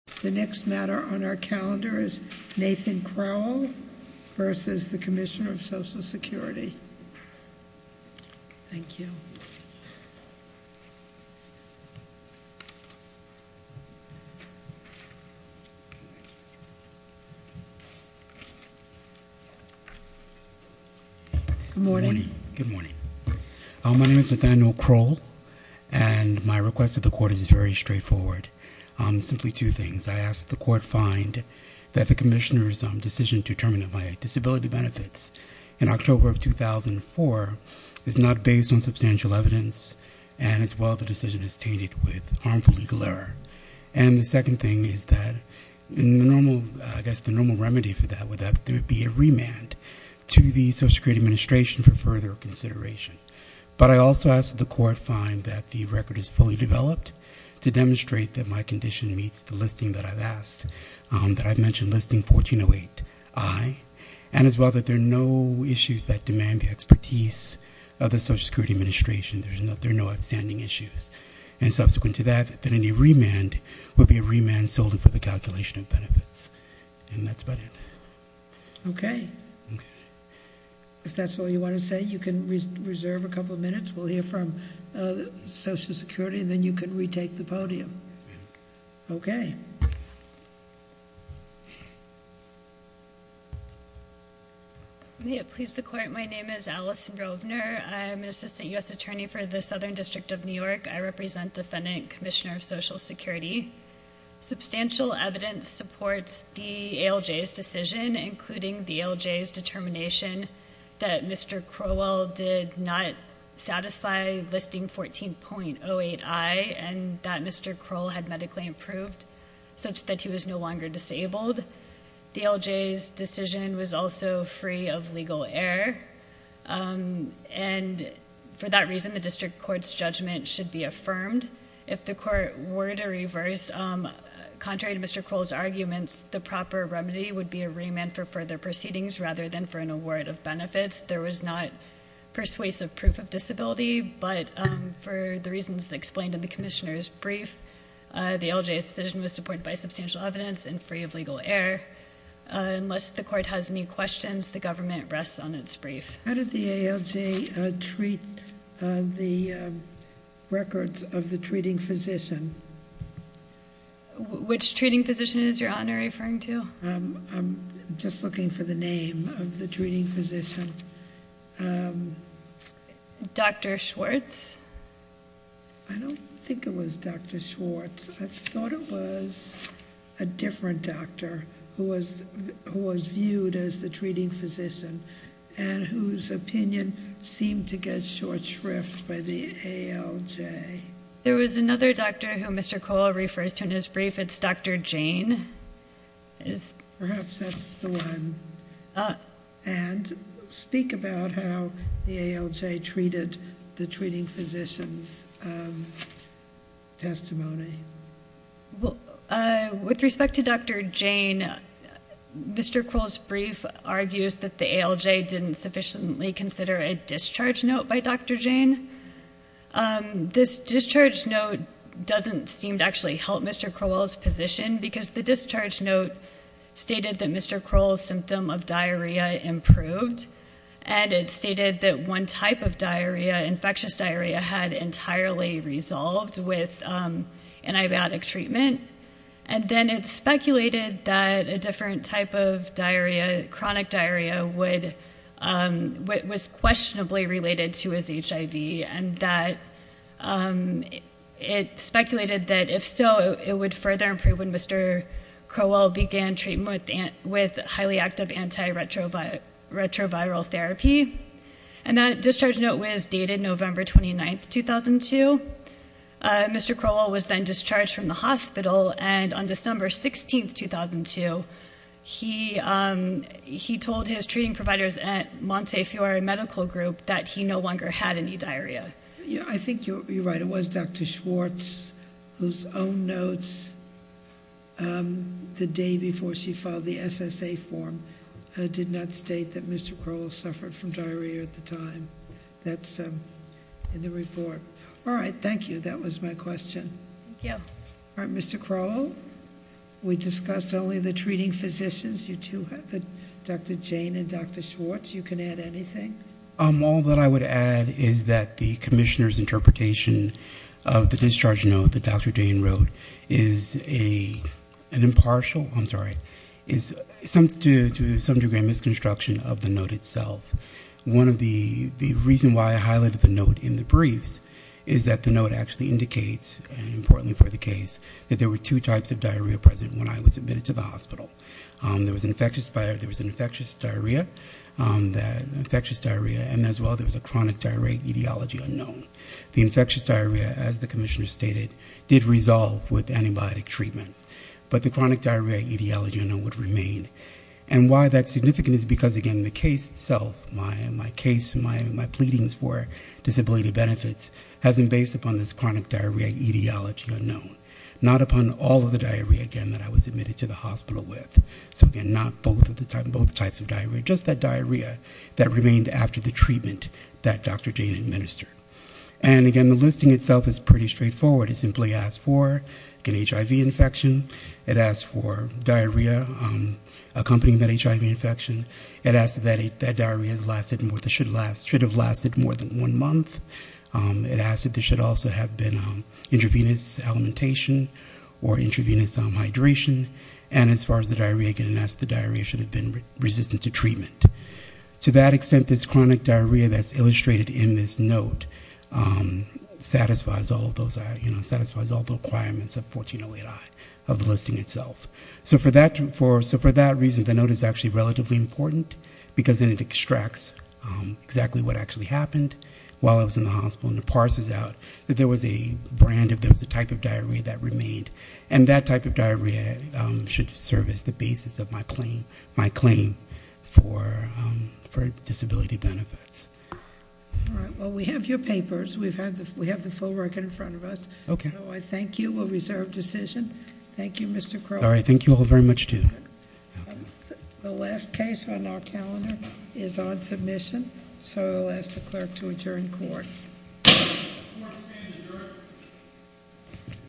The next matter on our calendar is Nathan Crowell v. Commissioner of Social Security. Thank you. Good morning. Good morning. My name is Nathaniel Crowell, and my request to the Court is very straightforward. Simply two things. I ask that the Court find that the Commissioner's decision to terminate my disability benefits in October of 2004 is not based on substantial evidence, and as well the decision is tainted with harmful legal error. And the second thing is that the normal remedy for that would be a remand to the Social Security Administration for further consideration. But I also ask that the Court find that the record is fully developed to demonstrate that my condition meets the listing that I've asked, that I've mentioned listing 1408I, and as well that there are no issues that demand the expertise of the Social Security Administration. There are no outstanding issues. And subsequent to that, that any remand would be a remand solely for the calculation of benefits. And that's about it. Okay. Okay. If that's all you want to say, you can reserve a couple of minutes. We'll hear from Social Security, and then you can retake the podium. Okay. May it please the Court, my name is Allison Rovner. I'm an Assistant U.S. Attorney for the Southern District of New York. I represent Defendant Commissioner of Social Security. Substantial evidence supports the ALJ's decision, including the ALJ's determination that Mr. Crowell did not satisfy listing 14.08I, and that Mr. Crowell had medically approved, such that he was no longer disabled. The ALJ's decision was also free of legal error. And for that reason, the District Court's judgment should be affirmed. If the Court were to reverse, contrary to Mr. Crowell's arguments, the proper remedy would be a remand for further proceedings rather than for an award of benefits. There was not persuasive proof of disability, but for the reasons explained in the Commissioner's brief, the ALJ's decision was supported by substantial evidence and free of legal error. Unless the Court has any questions, the government rests on its brief. How did the ALJ treat the records of the treating physician? Which treating physician is Your Honor referring to? I'm just looking for the name of the treating physician. Dr. Schwartz? I don't think it was Dr. Schwartz. I thought it was a different doctor who was viewed as the treating physician and whose opinion seemed to get short shrift by the ALJ. There was another doctor who Mr. Crowell refers to in his brief. It's Dr. Jane. Perhaps that's the one. And speak about how the ALJ treated the treating physician's testimony. With respect to Dr. Jane, Mr. Crowell's brief argues that the ALJ didn't sufficiently consider a discharge note by Dr. Jane. This discharge note doesn't seem to actually help Mr. Crowell's position because the discharge note stated that Mr. Crowell's symptom of diarrhea improved and it stated that one type of diarrhea, infectious diarrhea, had entirely resolved with antibiotic treatment. And then it speculated that a different type of diarrhea, chronic diarrhea, was questionably related to his HIV and that it speculated that if so, it would further improve when Mr. Crowell began treatment with highly active antiretroviral therapy. And that discharge note was dated November 29, 2002. Mr. Crowell was then discharged from the hospital, and on December 16, 2002, he told his treating providers at Montefiore Medical Group that he no longer had any diarrhea. I think you're right. It was Dr. Schwartz whose own notes the day before she filed the SSA form did not state that Mr. Crowell suffered from diarrhea at the time. That's in the report. All right. Thank you. That was my question. Thank you. All right. Mr. Crowell, we discussed only the treating physicians. You two have Dr. Jane and Dr. Schwartz. You can add anything. All that I would add is that the commissioner's interpretation of the discharge note that Dr. Jane wrote is an impartial, I'm sorry, is to some degree a misconstruction of the note itself. One of the reasons why I highlighted the note in the briefs is that the note actually indicates, importantly for the case, that there were two types of diarrhea present when I was admitted to the hospital. There was infectious diarrhea, and as well there was a chronic diarrhea etiology unknown. The infectious diarrhea, as the commissioner stated, did resolve with antibiotic treatment, but the chronic diarrhea etiology unknown would remain. And why that's significant is because, again, the case itself, my case, my pleadings for disability benefits, has been based upon this chronic diarrhea etiology unknown, not upon all of the diarrhea, again, that I was admitted to the hospital with. So, again, not both types of diarrhea, just that diarrhea that remained after the treatment that Dr. Jane administered. And, again, the listing itself is pretty straightforward. It simply asks for an HIV infection. It asks for diarrhea accompanying that HIV infection. It asks that diarrhea should have lasted more than one month. It asks that there should also have been intravenous alimentation or intravenous hydration. And as far as the diarrhea, again, it asks the diarrhea should have been resistant to treatment. To that extent, this chronic diarrhea that's illustrated in this note satisfies all of those, satisfies all the requirements of 1408I, of the listing itself. So for that reason, the note is actually relatively important because then it extracts exactly what actually happened while I was in the hospital. And it parses out that there was a type of diarrhea that remained. And that type of diarrhea should serve as the basis of my claim for disability benefits. All right. Well, we have your papers. We have the full record in front of us. Okay. So I thank you. We'll reserve decision. Thank you, Mr. Crowley. All right. Thank you all very much, too. The last case on our calendar is on submission. So I'll ask the clerk to adjourn court. Court is standing adjourned.